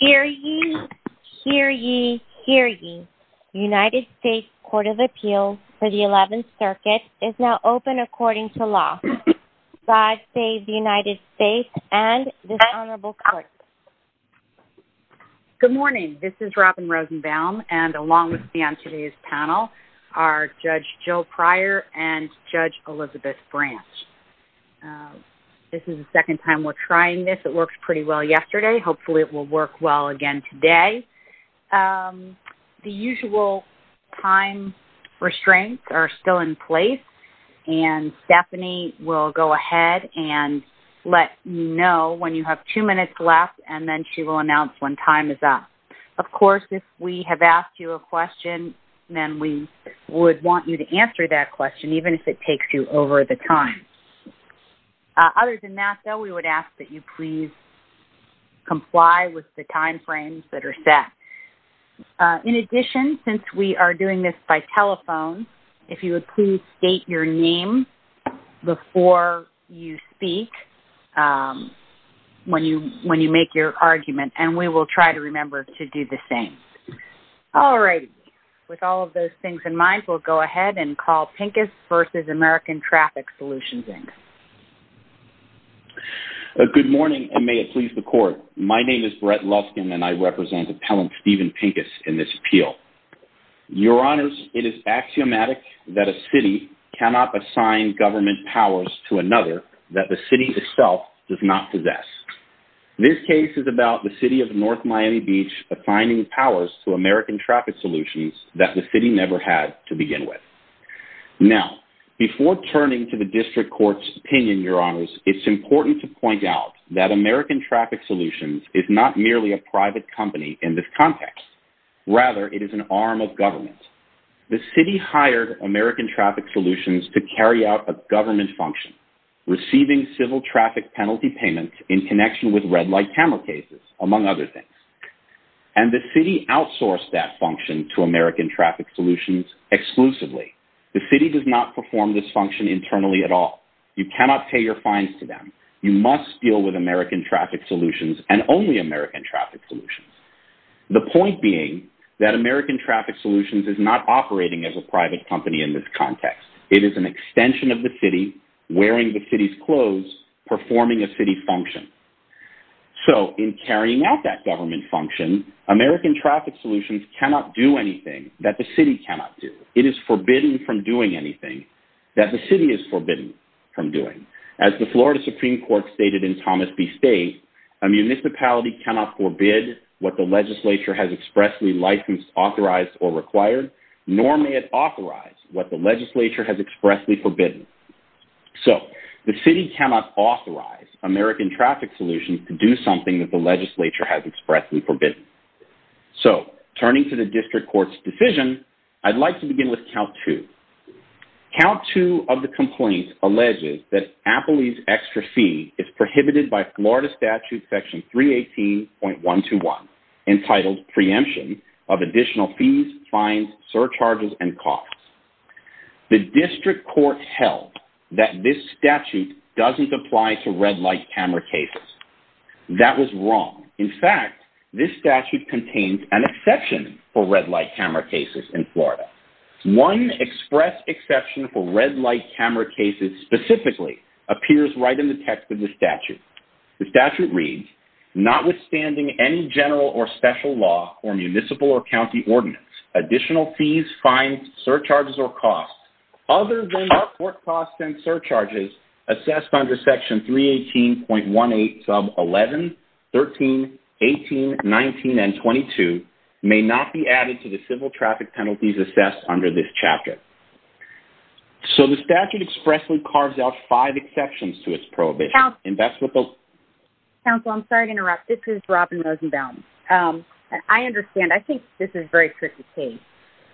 Hear ye, hear ye, hear ye, United States Court of Appeals for the 11th Circuit is now open according to law. God save the United States and this honorable court. Good morning, this is Robin Rosenbaum and along with me on today's panel are Judge Jill Pryor and Judge Elizabeth Branch. This is the second time we're trying this. It worked pretty well yesterday. Hopefully it will work well again today. The usual time restraints are still in place and Stephanie will go ahead and let you know when you have two minutes left and then she will announce when time is up. Of course, if we have asked you a question, then we would want you to answer that question, even if it takes you over the time. Other than that, though, we would ask that you please comply with the timeframes that are set. In addition, since we are doing this by telephone, if you would please state your name before you speak when you make your argument and we will try to remember to do the same. All right. With all of those things in mind, we'll go ahead and call Pincus v. American Traffic Solutions, Inc. Good morning and may it please the court. My name is Brett Luskin and I represent Appellant Steven Pincus in this appeal. Your honors, it is axiomatic that a city cannot assign government powers to another that the city itself does not possess. This case is about the city of North Miami Beach assigning powers to American Traffic Solutions that the city never had to begin with. Now, before turning to the district court's opinion, your honors, it's important to point out that American Traffic Solutions is not merely a private company in this context. Rather, it is an arm of government. The city hired American Traffic Solutions to carry out a government function, receiving civil traffic penalty payments in connection with red light camera cases, among other things. And the city outsourced that function to American Traffic Solutions exclusively. The city does not perform this function internally at all. You cannot pay your fines to them. You must deal with American Traffic Solutions and only American Traffic Solutions. The point being that American Traffic Solutions is not operating as a private company in this context. It is an extension of the city, wearing the city's clothes, performing a city function. So, in carrying out that government function, American Traffic Solutions cannot do anything that the city cannot do. It is forbidden from doing anything that the city is forbidden from doing. As the Florida Supreme Court stated in Thomas B. State, a municipality cannot forbid what the legislature has expressly licensed, authorized, or required, nor may it authorize what the legislature has expressly forbidden. So, the city cannot authorize American Traffic Solutions to do something that the legislature has expressly forbidden. So, turning to the District Court's decision, I'd like to begin with Count 2. Count 2 of the complaint alleges that Appley's extra fee is prohibited by Florida Statute Section 318.121, entitled Preemption of Additional Fees, Fines, Surcharges, and Costs. The District Court held that this statute doesn't apply to red light camera cases. That was wrong. In fact, this statute contains an exception for red light camera cases in Florida. One express exception for red light camera cases specifically appears right in the text of the statute. The statute reads, notwithstanding any general or special law or municipal or county ordinance, additional fees, fines, surcharges, or costs, other than what work costs and surcharges assessed under Section 318.18 sub 11, 13, 18, 19, and 22 may not be added to the civil traffic penalties assessed under this chapter. So, the statute expressly carves out five exceptions to its prohibition. Counsel, I'm sorry to interrupt. This is Robin Rosenbaum. I understand. I think this is a very tricky case.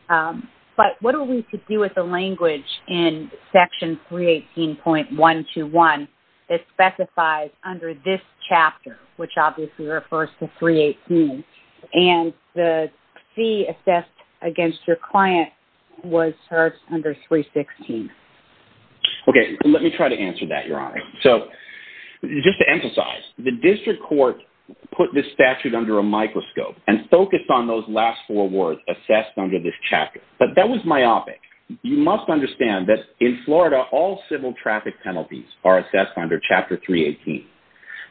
But what are we to do with the language in Section 318.121 that specifies under this chapter, which obviously refers to 318, and the fee assessed against your client was charged under 316? Okay. Let me try to answer that, Your Honor. So, just to emphasize, the District Court put this statute under a microscope and focused on those last four words assessed under this chapter. But that was myopic. You must understand that in Florida, all civil traffic penalties are assessed under Chapter 318.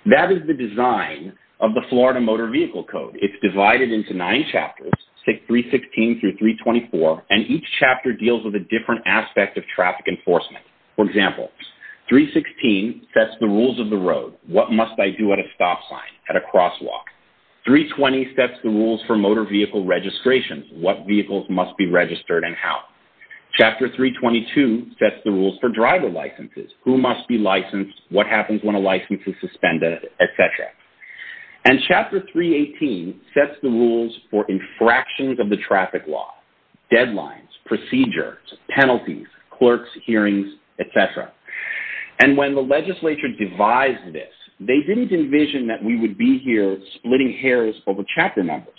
That is the design of the Florida Motor Vehicle Code. It's divided into nine chapters, take 316 through 324, and each chapter deals with a different aspect of traffic enforcement. For example, 316 sets the rules of the road. What must I do at a stop sign, at a crosswalk? 320 sets the rules for motor vehicle registrations. What vehicles must be registered and how? Chapter 322 sets the rules for driver licenses. Who must be licensed? What happens when a license is suspended, et cetera? And Chapter 318 sets the rules for infractions of the traffic law, deadlines, procedures, penalties, clerks, hearings, et cetera. And when the legislature devised this, they didn't envision that we would be here splitting hairs over chapter numbers.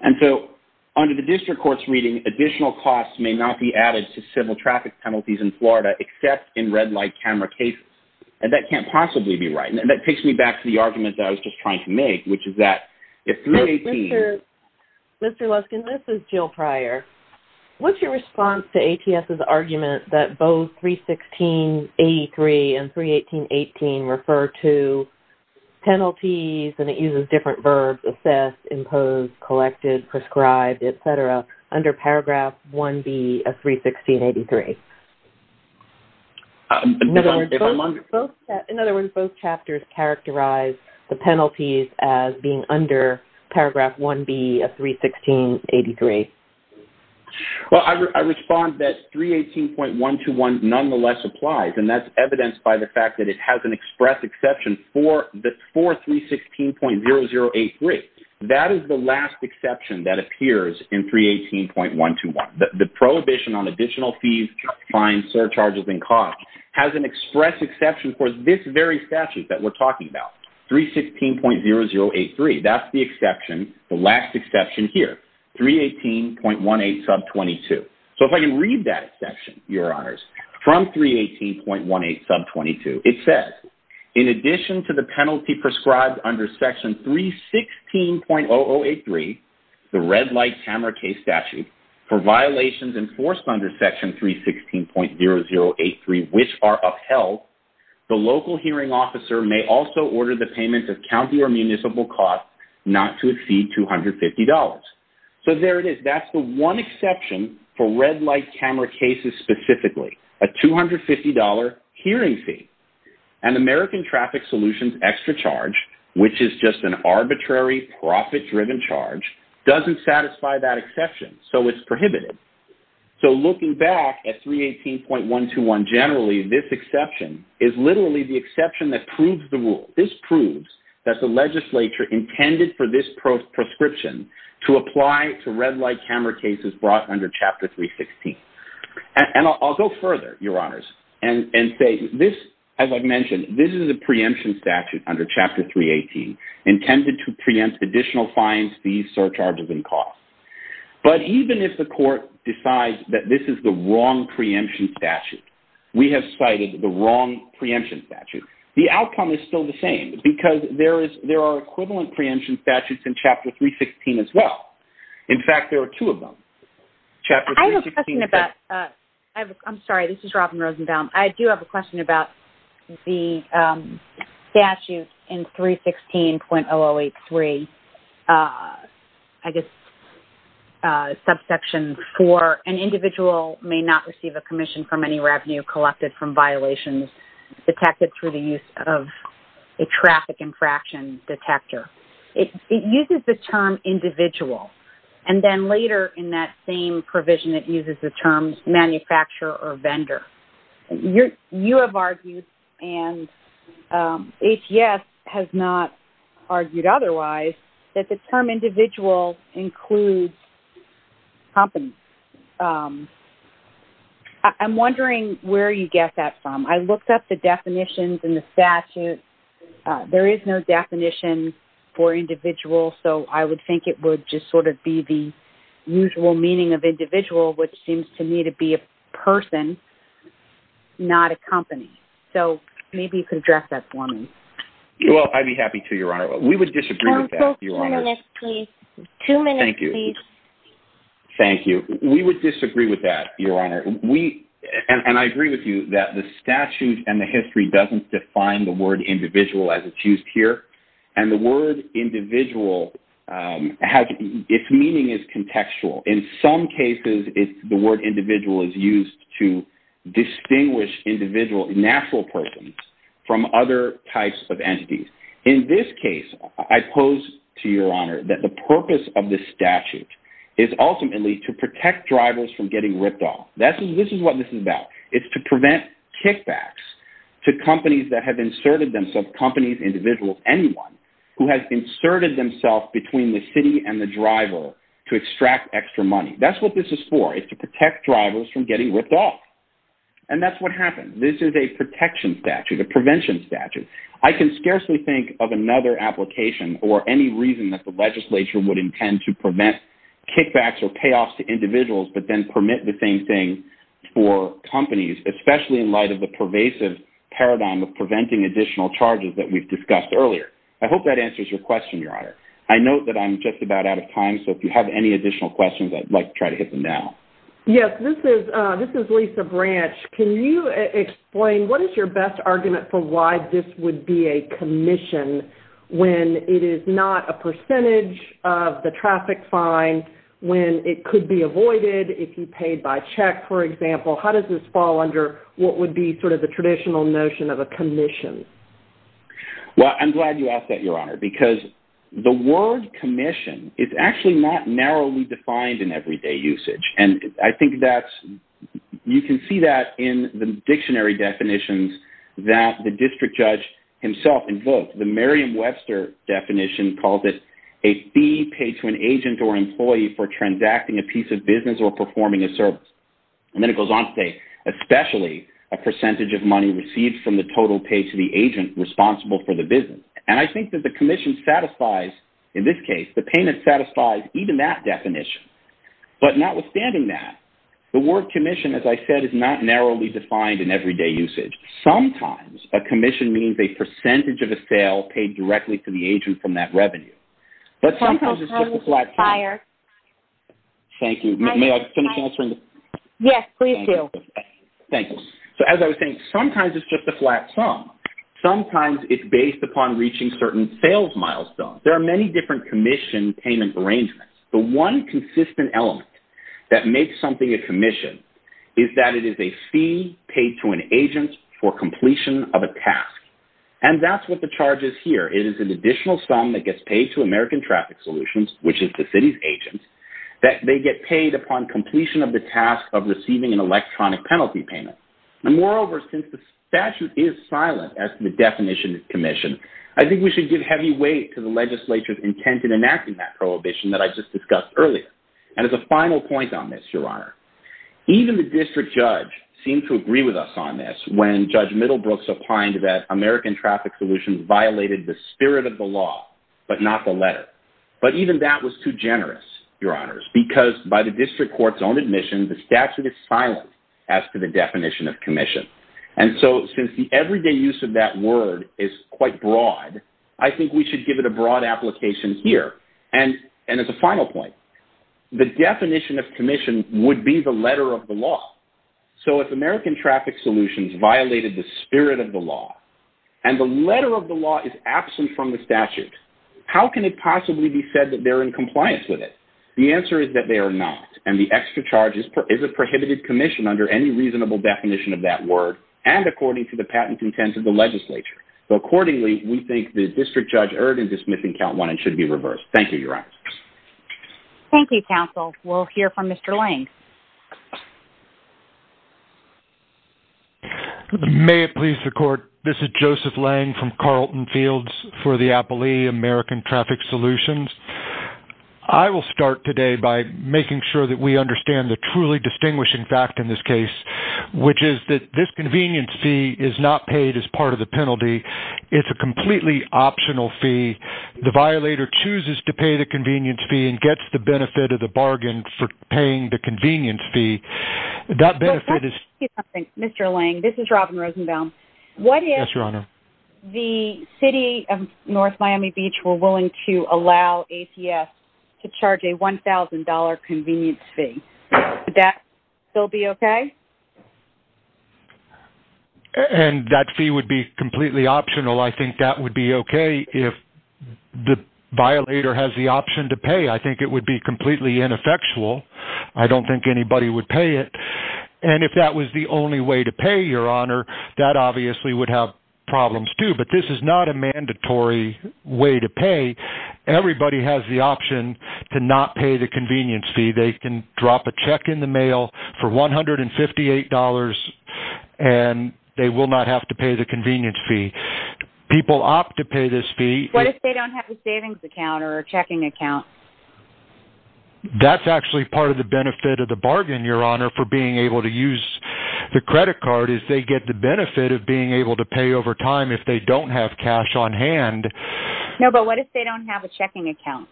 And so, under the District Court's reading, additional costs may not be added to civil traffic penalties in Florida except in red light camera cases. And that can't possibly be right. And that takes me back to the argument that I was just trying to make, which is that if 318... Mr. Luskin, this is Jill Pryor. What's your response to ATS's argument that both 316.83 and 318.18 refer to penalties, and it uses different verbs, assess, impose, collected, prescribed, et cetera, under Paragraph 1B of 316.83? In other words, both chapters characterize the penalties as being under Paragraph 1B of 316.83. Well, I respond that 318.121 nonetheless applies, and that's evidenced by the fact that it has an express exception for 316.0083. That is the last exception that appears in 318.121. The prohibition on additional fees, fines, surcharges, and costs has an express exception for this very statute that we're talking about, 316.0083. That's the exception, the last exception here, 318.18 sub 22. If I can read that exception, Your Honors, from 318.18 sub 22, it says, In addition to the penalty prescribed under Section 316.0083, the red light camera case statute, for violations enforced under Section 316.0083 which are upheld, the local hearing officer may also order the payment of county or municipal costs not to exceed $250. So there it is. That's the one exception for red light camera cases specifically, a $250 hearing fee. An American Traffic Solutions extra charge, which is just an arbitrary profit-driven charge, doesn't satisfy that exception, so it's prohibited. So looking back at 318.121 generally, this exception is literally the exception that proves the rule. This proves that the legislature intended for this proscription to apply to red light camera cases brought under Chapter 316. And I'll go further, Your Honors, and say this, as I've mentioned, this is a preemption statute under Chapter 318 intended to preempt additional fines, fees, surcharges, and costs. But even if the court decides that this is the wrong preemption statute, we have cited the wrong preemption statute, the outcome is still the same because there are equivalent preemption statutes in Chapter 316 as well. In fact, there are two of them. I have a question about – I'm sorry, this is Robin Rosenbaum. I do have a question about the statute in 316.0083, I guess subsection 4, where an individual may not receive a commission from any revenue collected from violations detected through the use of a traffic infraction detector. It uses the term individual, and then later in that same provision it uses the terms manufacturer or vendor. You have argued, and ATS has not argued otherwise, that the term individual includes companies. I'm wondering where you get that from. I looked up the definitions in the statute. There is no definition for individual, so I would think it would just sort of be the usual meaning of individual, which seems to me to be a person, not a company. So maybe you could address that for me. Well, I'd be happy to, Your Honor. We would disagree with that, Your Honor. Two minutes, please. Thank you. Thank you. We would disagree with that, Your Honor. And I agree with you that the statute and the history doesn't define the word individual as it's used here. And the word individual, its meaning is contextual. In some cases, the word individual is used to distinguish individual, natural persons, from other types of entities. In this case, I pose to Your Honor that the purpose of this statute is ultimately to protect drivers from getting ripped off. This is what this is about. It's to prevent kickbacks to companies that have inserted themselves, companies, individuals, anyone who has inserted themselves between the city and the driver to extract extra money. That's what this is for. It's to protect drivers from getting ripped off. And that's what happened. This is a protection statute, a prevention statute. I can scarcely think of another application or any reason that the legislature would intend to prevent kickbacks or payoffs to individuals but then permit the same thing for companies, especially in light of the pervasive paradigm of preventing additional charges that we've discussed earlier. I hope that answers your question, Your Honor. I know that I'm just about out of time, so if you have any additional questions, I'd like to try to hit them now. Yes, this is Lisa Branch. Can you explain what is your best argument for why this would be a commission when it is not a percentage of the traffic fine, when it could be avoided if you paid by check, for example? How does this fall under what would be sort of the traditional notion of a commission? Well, I'm glad you asked that, Your Honor, because the word commission is actually not narrowly defined in everyday usage. And I think that's you can see that in the dictionary definitions that the district judge himself invoked. The Merriam-Webster definition calls it a fee paid to an agent or employee for transacting a piece of business or performing a service. And then it goes on to say especially a percentage of money received from the total pay to the agent responsible for the business. And I think that the commission satisfies, in this case, the payment satisfies even that definition. But notwithstanding that, the word commission, as I said, is not narrowly defined in everyday usage. Sometimes a commission means a percentage of a sale paid directly to the agent from that revenue. But sometimes it's just a flat sum. Thank you. May I finish answering? Yes, please do. Thank you. So as I was saying, sometimes it's just a flat sum. Sometimes it's based upon reaching certain sales milestones. There are many different commission payment arrangements. The one consistent element that makes something a commission is that it is a fee paid to an agent for completion of a task. And that's what the charge is here. It is an additional sum that gets paid to American Traffic Solutions, which is the city's agent, that they get paid upon completion of the task of receiving an electronic penalty payment. And moreover, since the statute is silent as to the definition of commission, I think we should give heavy weight to the legislature's intent in enacting that prohibition that I just discussed earlier. And as a final point on this, Your Honor, even the district judge seemed to agree with us on this when Judge Middlebrooks opined that American Traffic Solutions violated the spirit of the law but not the letter. But even that was too generous, Your Honors, because by the district court's own admission, the statute is silent as to the definition of commission. And so since the everyday use of that word is quite broad, I think we should give it a broad application here. And as a final point, the definition of commission would be the letter of the law. So if American Traffic Solutions violated the spirit of the law and the letter of the law is absent from the statute, how can it possibly be said that they're in compliance with it? The answer is that they are not. And the extra charge is a prohibited commission under any reasonable definition of that word and according to the patent intent of the legislature. So accordingly, we think the district judge erred in dismissing Count 1 and should be reversed. Thank you, Your Honors. Thank you, counsel. We'll hear from Mr. Lange. May it please the court, this is Joseph Lange from Carlton Fields for the Applee American Traffic Solutions. I will start today by making sure that we understand the truly distinguishing fact in this case, which is that this convenience fee is not paid as part of the penalty. It's a completely optional fee. The violator chooses to pay the convenience fee and gets the benefit of the bargain for paying the convenience fee. That benefit is... Mr. Lange, this is Robin Rosenbaum. Yes, Your Honor. What if the City of North Miami Beach were willing to allow ACF to charge a $1,000 convenience fee? Would that still be okay? And that fee would be completely optional. I think that would be okay if the violator has the option to pay. I think it would be completely ineffectual. I don't think anybody would pay it. And if that was the only way to pay, Your Honor, that obviously would have problems too. But this is not a mandatory way to pay. Everybody has the option to not pay the convenience fee. They can drop a check in the mail for $158 and they will not have to pay the convenience fee. People opt to pay this fee. What if they don't have a savings account or a checking account? That's actually part of the benefit of the bargain, Your Honor, for being able to use the credit card, is they get the benefit of being able to pay over time if they don't have cash on hand. No, but what if they don't have a checking account?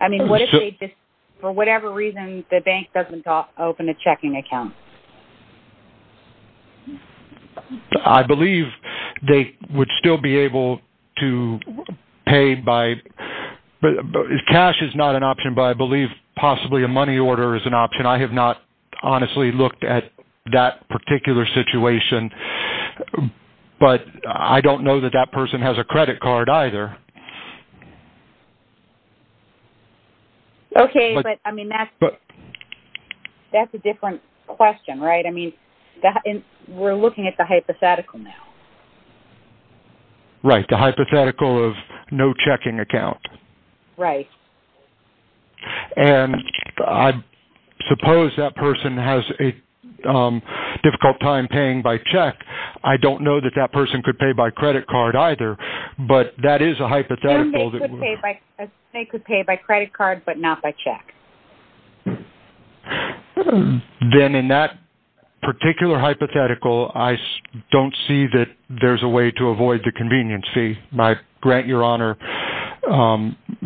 I mean, what if they just, for whatever reason, the bank doesn't open a checking account? I believe they would still be able to pay by cash is not an option, but I believe possibly a money order is an option. I have not honestly looked at that particular situation. But I don't know that that person has a credit card either. Okay, but, I mean, that's a different question, right? I mean, we're looking at the hypothetical now. Right, the hypothetical of no checking account. Right. And I suppose that person has a difficult time paying by check. I don't know that that person could pay by credit card either, but that is a hypothetical. They could pay by credit card, but not by check. Then in that particular hypothetical, I don't see that there's a way to avoid the convenience fee. I grant Your Honor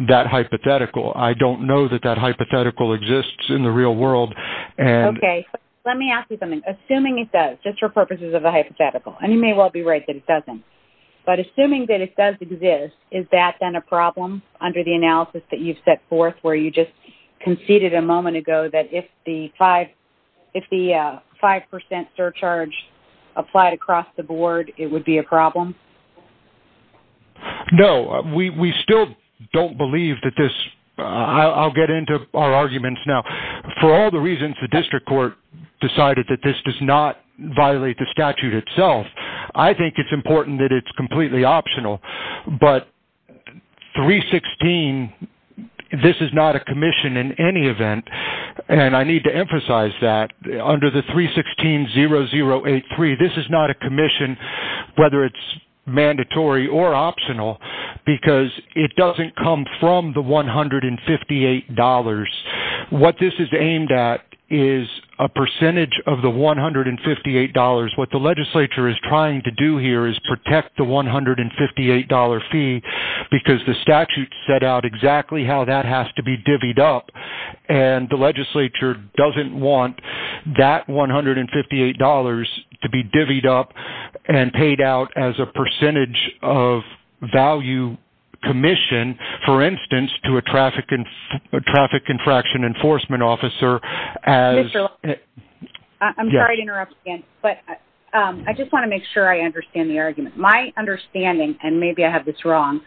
that hypothetical. I don't know that that hypothetical exists in the real world. Okay, let me ask you something. Assuming it does, just for purposes of the hypothetical, and you may well be right that it doesn't, but assuming that it does exist, is that then a problem under the analysis that you've set forth where you just conceded a moment ago that if the 5% surcharge applied across the board, it would be a problem? No, we still don't believe that this, I'll get into our arguments now. For all the reasons the district court decided that this does not violate the statute itself, I think it's important that it's completely optional. But 316, this is not a commission in any event, and I need to emphasize that. Under the 316-0083, this is not a commission, whether it's mandatory or optional, because it doesn't come from the $158. What this is aimed at is a percentage of the $158. What the legislature is trying to do here is protect the $158 fee because the statute set out exactly how that has to be divvied up, and the legislature doesn't want that $158 to be divvied up and paid out as a percentage of value commission, for instance, to a traffic infraction enforcement officer. I'm sorry to interrupt again, but I just want to make sure I understand the argument. My understanding, and maybe I have this wrong,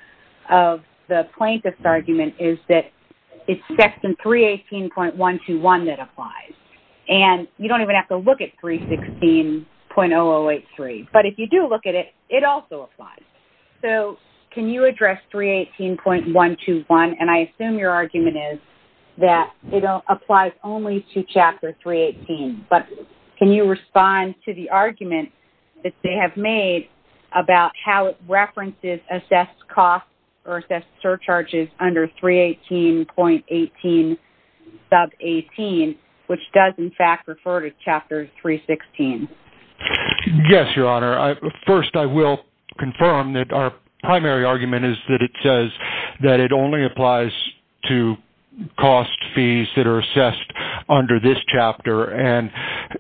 of the plaintiff's argument is that it's section 318.121 that applies, and you don't even have to look at 316.0083, but if you do look at it, it also applies. So, can you address 318.121, and I assume your argument is that it applies only to Chapter 318, but can you respond to the argument that they have made about how it references assessed costs or assessed surcharges under 318.18 sub 18, which does, in fact, refer to Chapter 316? Yes, Your Honor. First, I will confirm that our primary argument is that it says that it only applies to cost fees that are assessed under this chapter, and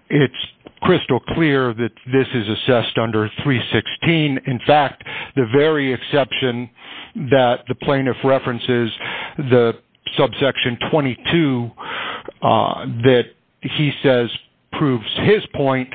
it's crystal clear that this is assessed under 316. In fact, the very exception that the plaintiff references, the subsection 22 that he says proves his point,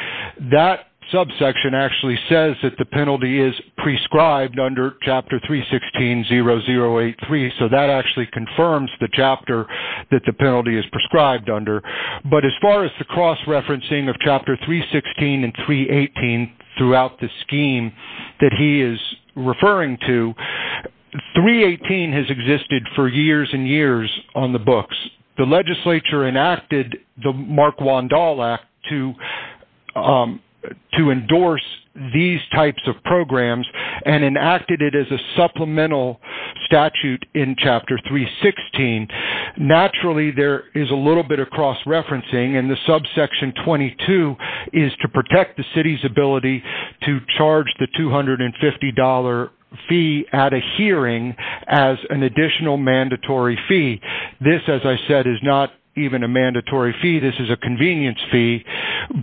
that subsection actually says that the penalty is prescribed under Chapter 316.0083, so that actually confirms the chapter that the penalty is prescribed under. But as far as the cross-referencing of Chapter 316.00 and 318.00 throughout the scheme that he is referring to, 318.00 has existed for years and years on the books. The legislature enacted the Mark Wandahl Act to endorse these types of programs, and enacted it as a supplemental statute in Chapter 316.00. Naturally, there is a little bit of cross-referencing, and the subsection 22 is to protect the city's ability to charge the $250.00 fee at a hearing as an additional mandatory fee. This, as I said, is not even a mandatory fee. This is a convenience fee.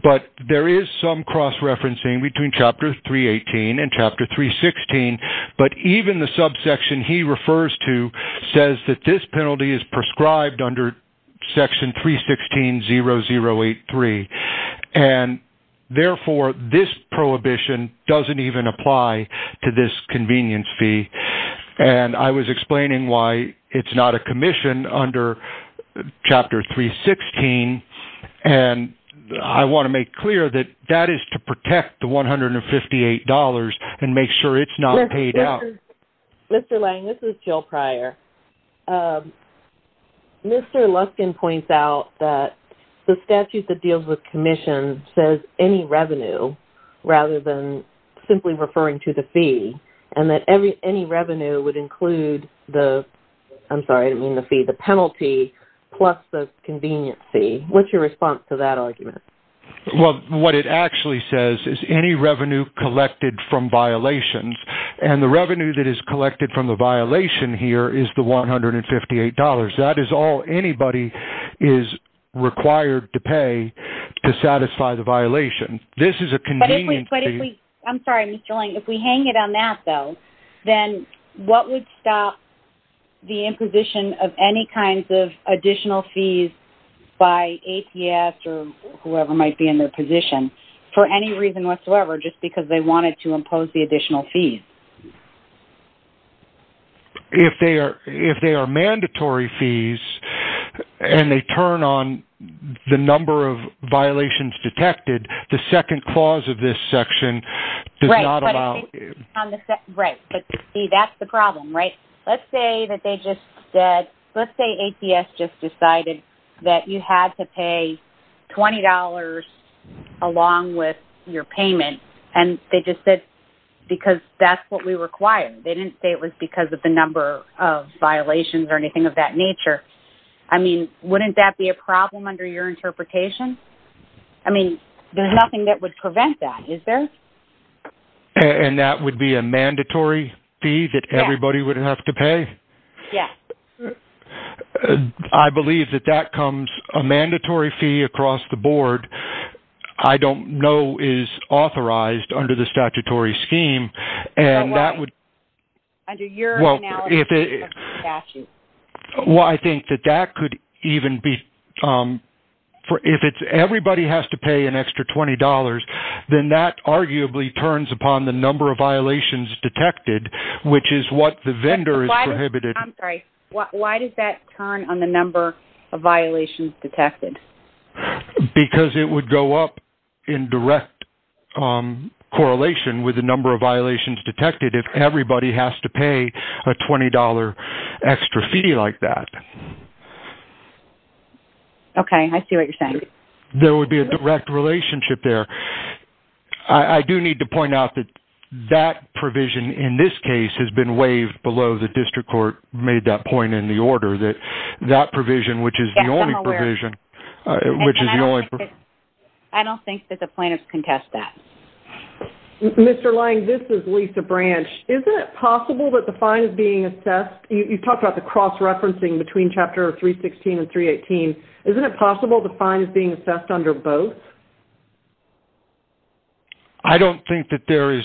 But there is some cross-referencing between Chapter 318.00 and Chapter 316.00, but even the subsection he refers to says that this penalty is prescribed under Section 316.0083. Therefore, this prohibition doesn't even apply to this convenience fee. I was explaining why it's not a commission under Chapter 316.00, and make sure it's not paid out. Mr. Lang, this is Jill Pryor. Mr. Luskin points out that the statute that deals with commissions says any revenue, rather than simply referring to the fee, and that any revenue would include the penalty plus the convenience fee. What's your response to that argument? What it actually says is any revenue collected from violations, and the revenue that is collected from the violation here is the $158.00. That is all anybody is required to pay to satisfy the violation. This is a convenience fee. I'm sorry, Mr. Lang. If we hang it on that, though, then what would stop the imposition of any kinds of additional fees by APS or whoever might be in their position for any reason whatsoever, just because they wanted to impose the additional fees? If they are mandatory fees and they turn on the number of violations detected, the second clause of this section does not allow it. Right, but you see, that's the problem, right? Let's say APS just decided that you had to pay $20.00 along with your payment, and they just said because that's what we require. They didn't say it was because of the number of violations or anything of that nature. I mean, wouldn't that be a problem under your interpretation? I mean, there's nothing that would prevent that, is there? And that would be a mandatory fee that everybody would have to pay? Yes. I believe that that comes a mandatory fee across the board. I don't know is authorized under the statutory scheme. Well, I think that that could even be, if everybody has to pay an extra $20.00, then that arguably turns upon the number of violations detected, which is what the vendor is prohibited. I'm sorry. Why does that turn on the number of violations detected? Because it would go up in direct correlation with the number of violations detected if everybody has to pay a $20.00 extra fee like that. Okay. I see what you're saying. There would be a direct relationship there. I do need to point out that that provision in this case has been waived below. The district court made that point in the order that that provision, which is the only provision. I don't think that the plaintiffs contest that. Mr. Lange, this is Lisa Branch. Isn't it possible that the fine is being assessed? You talked about the cross-referencing between Chapter 316 and 318. Isn't it possible the fine is being assessed under both? I don't think that there is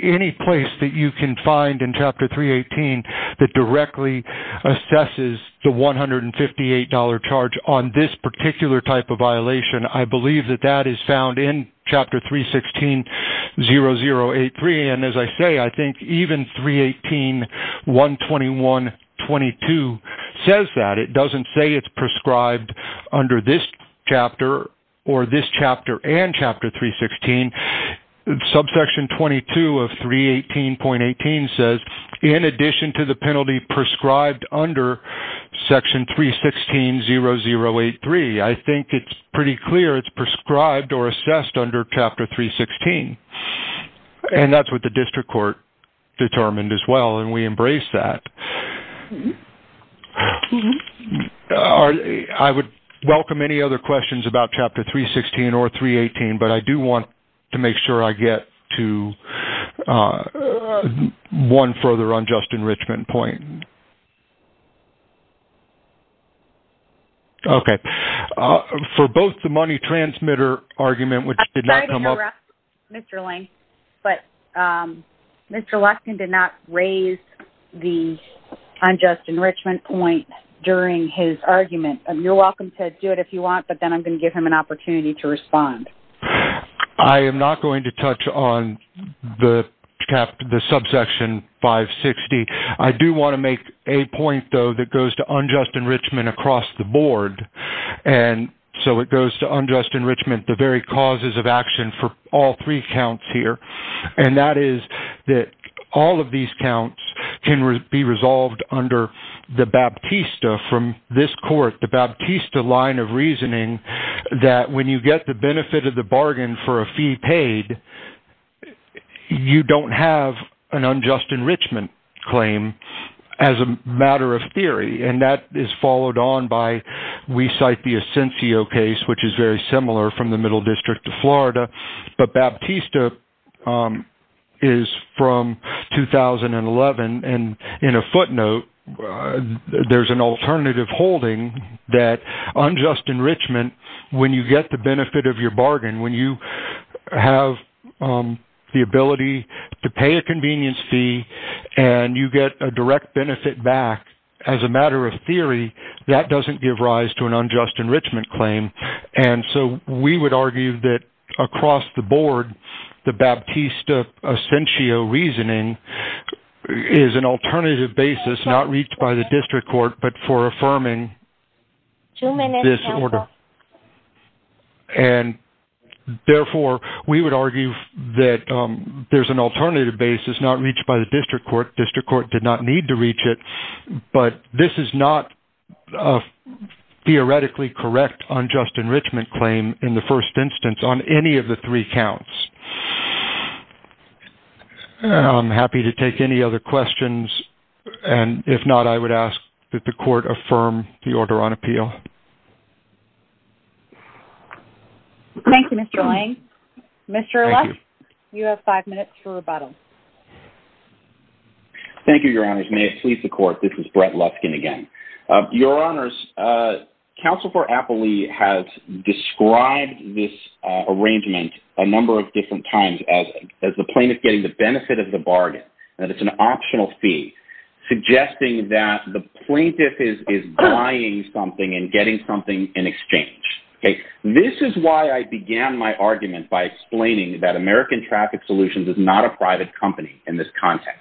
any place that you can find in Chapter 318 that directly assesses the $158.00 charge on this particular type of violation. I believe that that is found in Chapter 316.0083. As I say, I think even 318.121.22 says that. It doesn't say it's prescribed under this chapter or this chapter and Chapter 316. Subsection 22 of 318.18 says, in addition to the penalty prescribed under Section 316.0083, I think it's pretty clear it's prescribed or assessed under Chapter 316.00. That's what the district court determined as well, and we embrace that. I would welcome any other questions about Chapter 316.00 or 318.00, but I do want to make sure I get to one further unjust enrichment point. Okay. For both the money transmitter argument, which did not come up— I'm sorry to interrupt, Mr. Lang, but Mr. Luskin did not raise the unjust enrichment point during his argument. You're welcome to do it if you want, but then I'm going to give him an opportunity to respond. I am not going to touch on the subsection 560. I do want to make a point, though, that goes to unjust enrichment across the board, and so it goes to unjust enrichment, the very causes of action for all three counts here, and that is that all of these counts can be resolved under the baptista from this court, the baptista line of reasoning that when you get the benefit of the bargain for a fee paid, you don't have an unjust enrichment claim as a matter of theory, and that is followed on by we cite the Ascensio case, which is very similar from the Middle District of Florida, but baptista is from 2011, and in a footnote, there's an alternative holding that unjust enrichment, when you get the benefit of your bargain, when you have the ability to pay a convenience fee and you get a direct benefit back as a matter of theory, that doesn't give rise to an unjust enrichment claim, and so we would argue that across the board, the baptista Ascensio reasoning is an alternative basis not reached by the district court, but for affirming this order, and therefore, we would argue that there's an alternative basis not reached by the district court. District court did not need to reach it, but this is not a theoretically correct unjust enrichment claim in the first instance on any of the three counts. I'm happy to take any other questions, and if not, I would ask that the court affirm the order on appeal. Thank you, Mr. Lang. Mr. Lusk, you have five minutes for rebuttal. Thank you, Your Honors. May it please the court, this is Brett Luskin again. Your Honors, Counsel for Appley has described this arrangement a number of different times as the plaintiff getting the benefit of the bargain, that it's an optional fee, suggesting that the plaintiff is buying something and getting something in exchange. This is why I began my argument by explaining that American Traffic Solutions is not a private company in this context.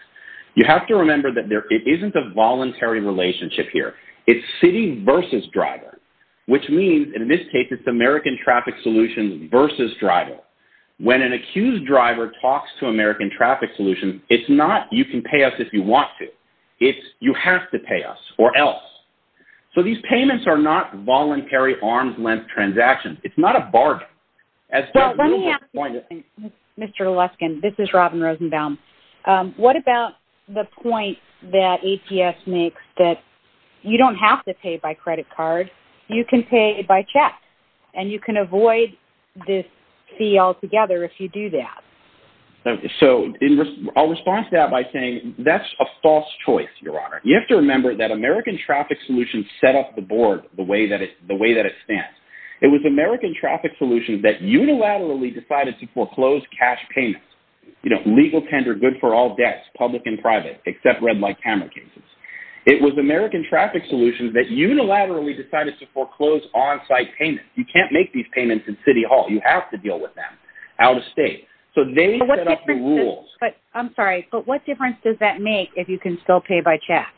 You have to remember that it isn't a voluntary relationship here. It's city versus driver, which means, in this case, it's American Traffic Solutions versus driver. When an accused driver talks to American Traffic Solutions, it's not, you can pay us if you want to. It's, you have to pay us, or else. So these payments are not voluntary, arm's-length transactions. It's not a bargain. Mr. Luskin, this is Robin Rosenbaum. What about the point that APS makes that you don't have to pay by credit card, you can pay by check, and you can avoid this fee altogether if you do that? So I'll respond to that by saying that's a false choice, Your Honor. You have to remember that American Traffic Solutions set up the board the way that it stands. It was American Traffic Solutions that unilaterally decided to foreclose cash payments, you know, legal tender, good for all debts, public and private, except red-light camera cases. It was American Traffic Solutions that unilaterally decided to foreclose on-site payments. You can't make these payments in City Hall. You have to deal with them out of state. So they set up the rules. I'm sorry, but what difference does that make if you can still pay by check?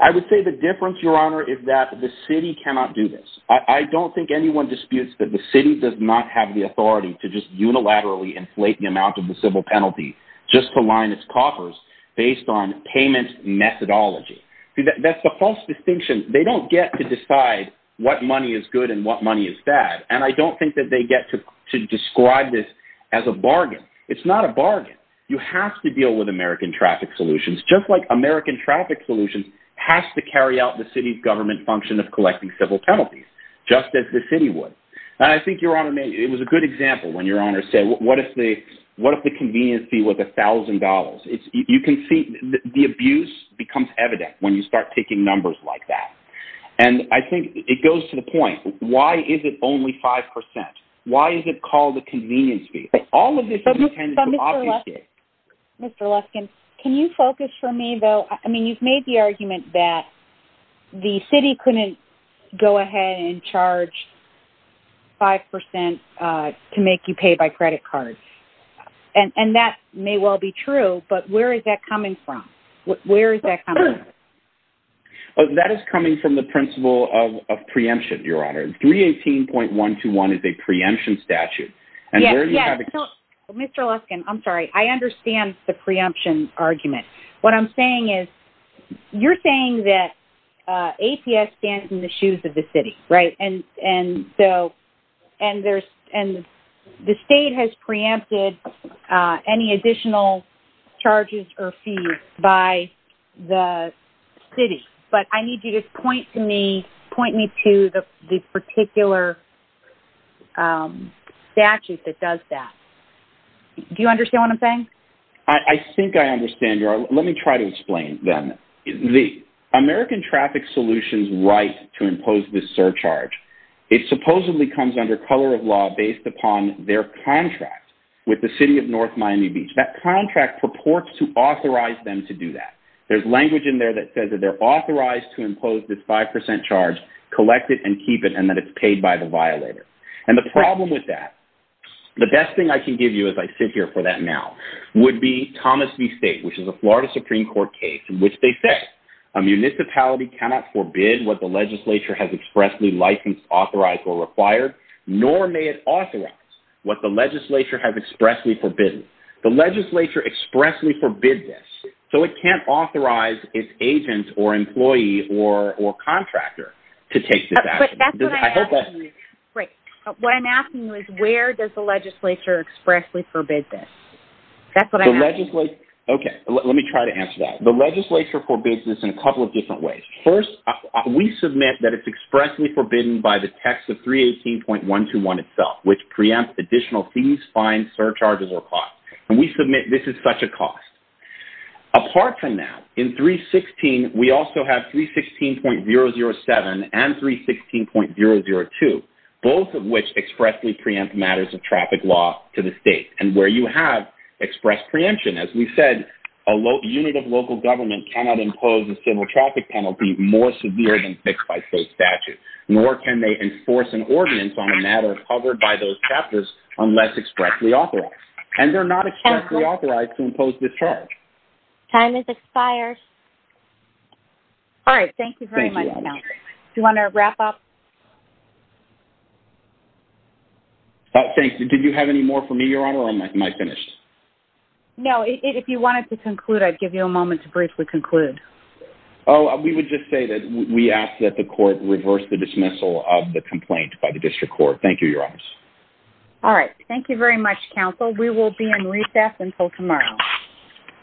I would say the difference, Your Honor, is that the city cannot do this. I don't think anyone disputes that the city does not have the authority to just unilaterally inflate the amount of the civil penalty just to line its coffers based on payment methodology. That's a false distinction. They don't get to decide what money is good and what money is bad, and I don't think that they get to describe this as a bargain. It's not a bargain. You have to deal with American Traffic Solutions, just like American Traffic Solutions has to carry out the city's government function of collecting civil penalties, just as the city would. I think, Your Honor, it was a good example when Your Honor said, what if the convenience fee was $1,000? You can see the abuse becomes evident when you start taking numbers like that. And I think it goes to the point, why is it only 5%? Why is it called a convenience fee? All of this is intended to obfuscate. Mr. Luskin, can you focus for me, though? I mean, you've made the argument that the city couldn't go ahead and charge 5% to make you pay by credit card, and that may well be true, but where is that coming from? Where is that coming from? That is coming from the principle of preemption, Your Honor. 318.121 is a preemption statute. Yes, yes. Mr. Luskin, I'm sorry. I understand the preemption argument. What I'm saying is you're saying that APS stands in the shoes of the city, right? And so the state has preempted any additional charges or fees by the city. But I need you to point me to the particular statute that does that. I think I understand, Your Honor. Let me try to explain then. The American Traffic Solutions right to impose this surcharge, it supposedly comes under color of law based upon their contract with the city of North Miami Beach. That contract purports to authorize them to do that. There's language in there that says that they're authorized to impose this 5% charge, collect it, and keep it, and that it's paid by the violator. And the problem with that, the best thing I can give you as I sit here for that now, would be Thomas v. State, which is a Florida Supreme Court case in which they say, a municipality cannot forbid what the legislature has expressly licensed, authorized, or required, nor may it authorize what the legislature has expressly forbidden. The legislature expressly forbids this, so it can't authorize its agent or employee or contractor to take this action. Great. What I'm asking you is where does the legislature expressly forbid this? That's what I'm asking. Okay. Let me try to answer that. The legislature forbids this in a couple of different ways. First, we submit that it's expressly forbidden by the text of 318.121 itself, which preempts additional fees, fines, surcharges, or costs. And we submit this is such a cost. Apart from that, in 316, we also have 316.007 and 316.002, both of which expressly preempt matters of traffic law to the state. And where you have express preemption, as we said, a unit of local government cannot impose a civil traffic penalty more severe than fixed by state statute, nor can they enforce an ordinance on a matter covered by those chapters unless expressly authorized. And they're not expressly authorized to impose this charge. Time has expired. All right. Thank you very much, counsel. Do you want to wrap up? Thanks. Did you have any more for me, Your Honor, or am I finished? No. If you wanted to conclude, I'd give you a moment to briefly conclude. Oh, we would just say that we ask that the court reverse the dismissal of the complaint by the district court. Thank you, Your Honors. All right. Thank you very much, counsel. We will be in recess until tomorrow.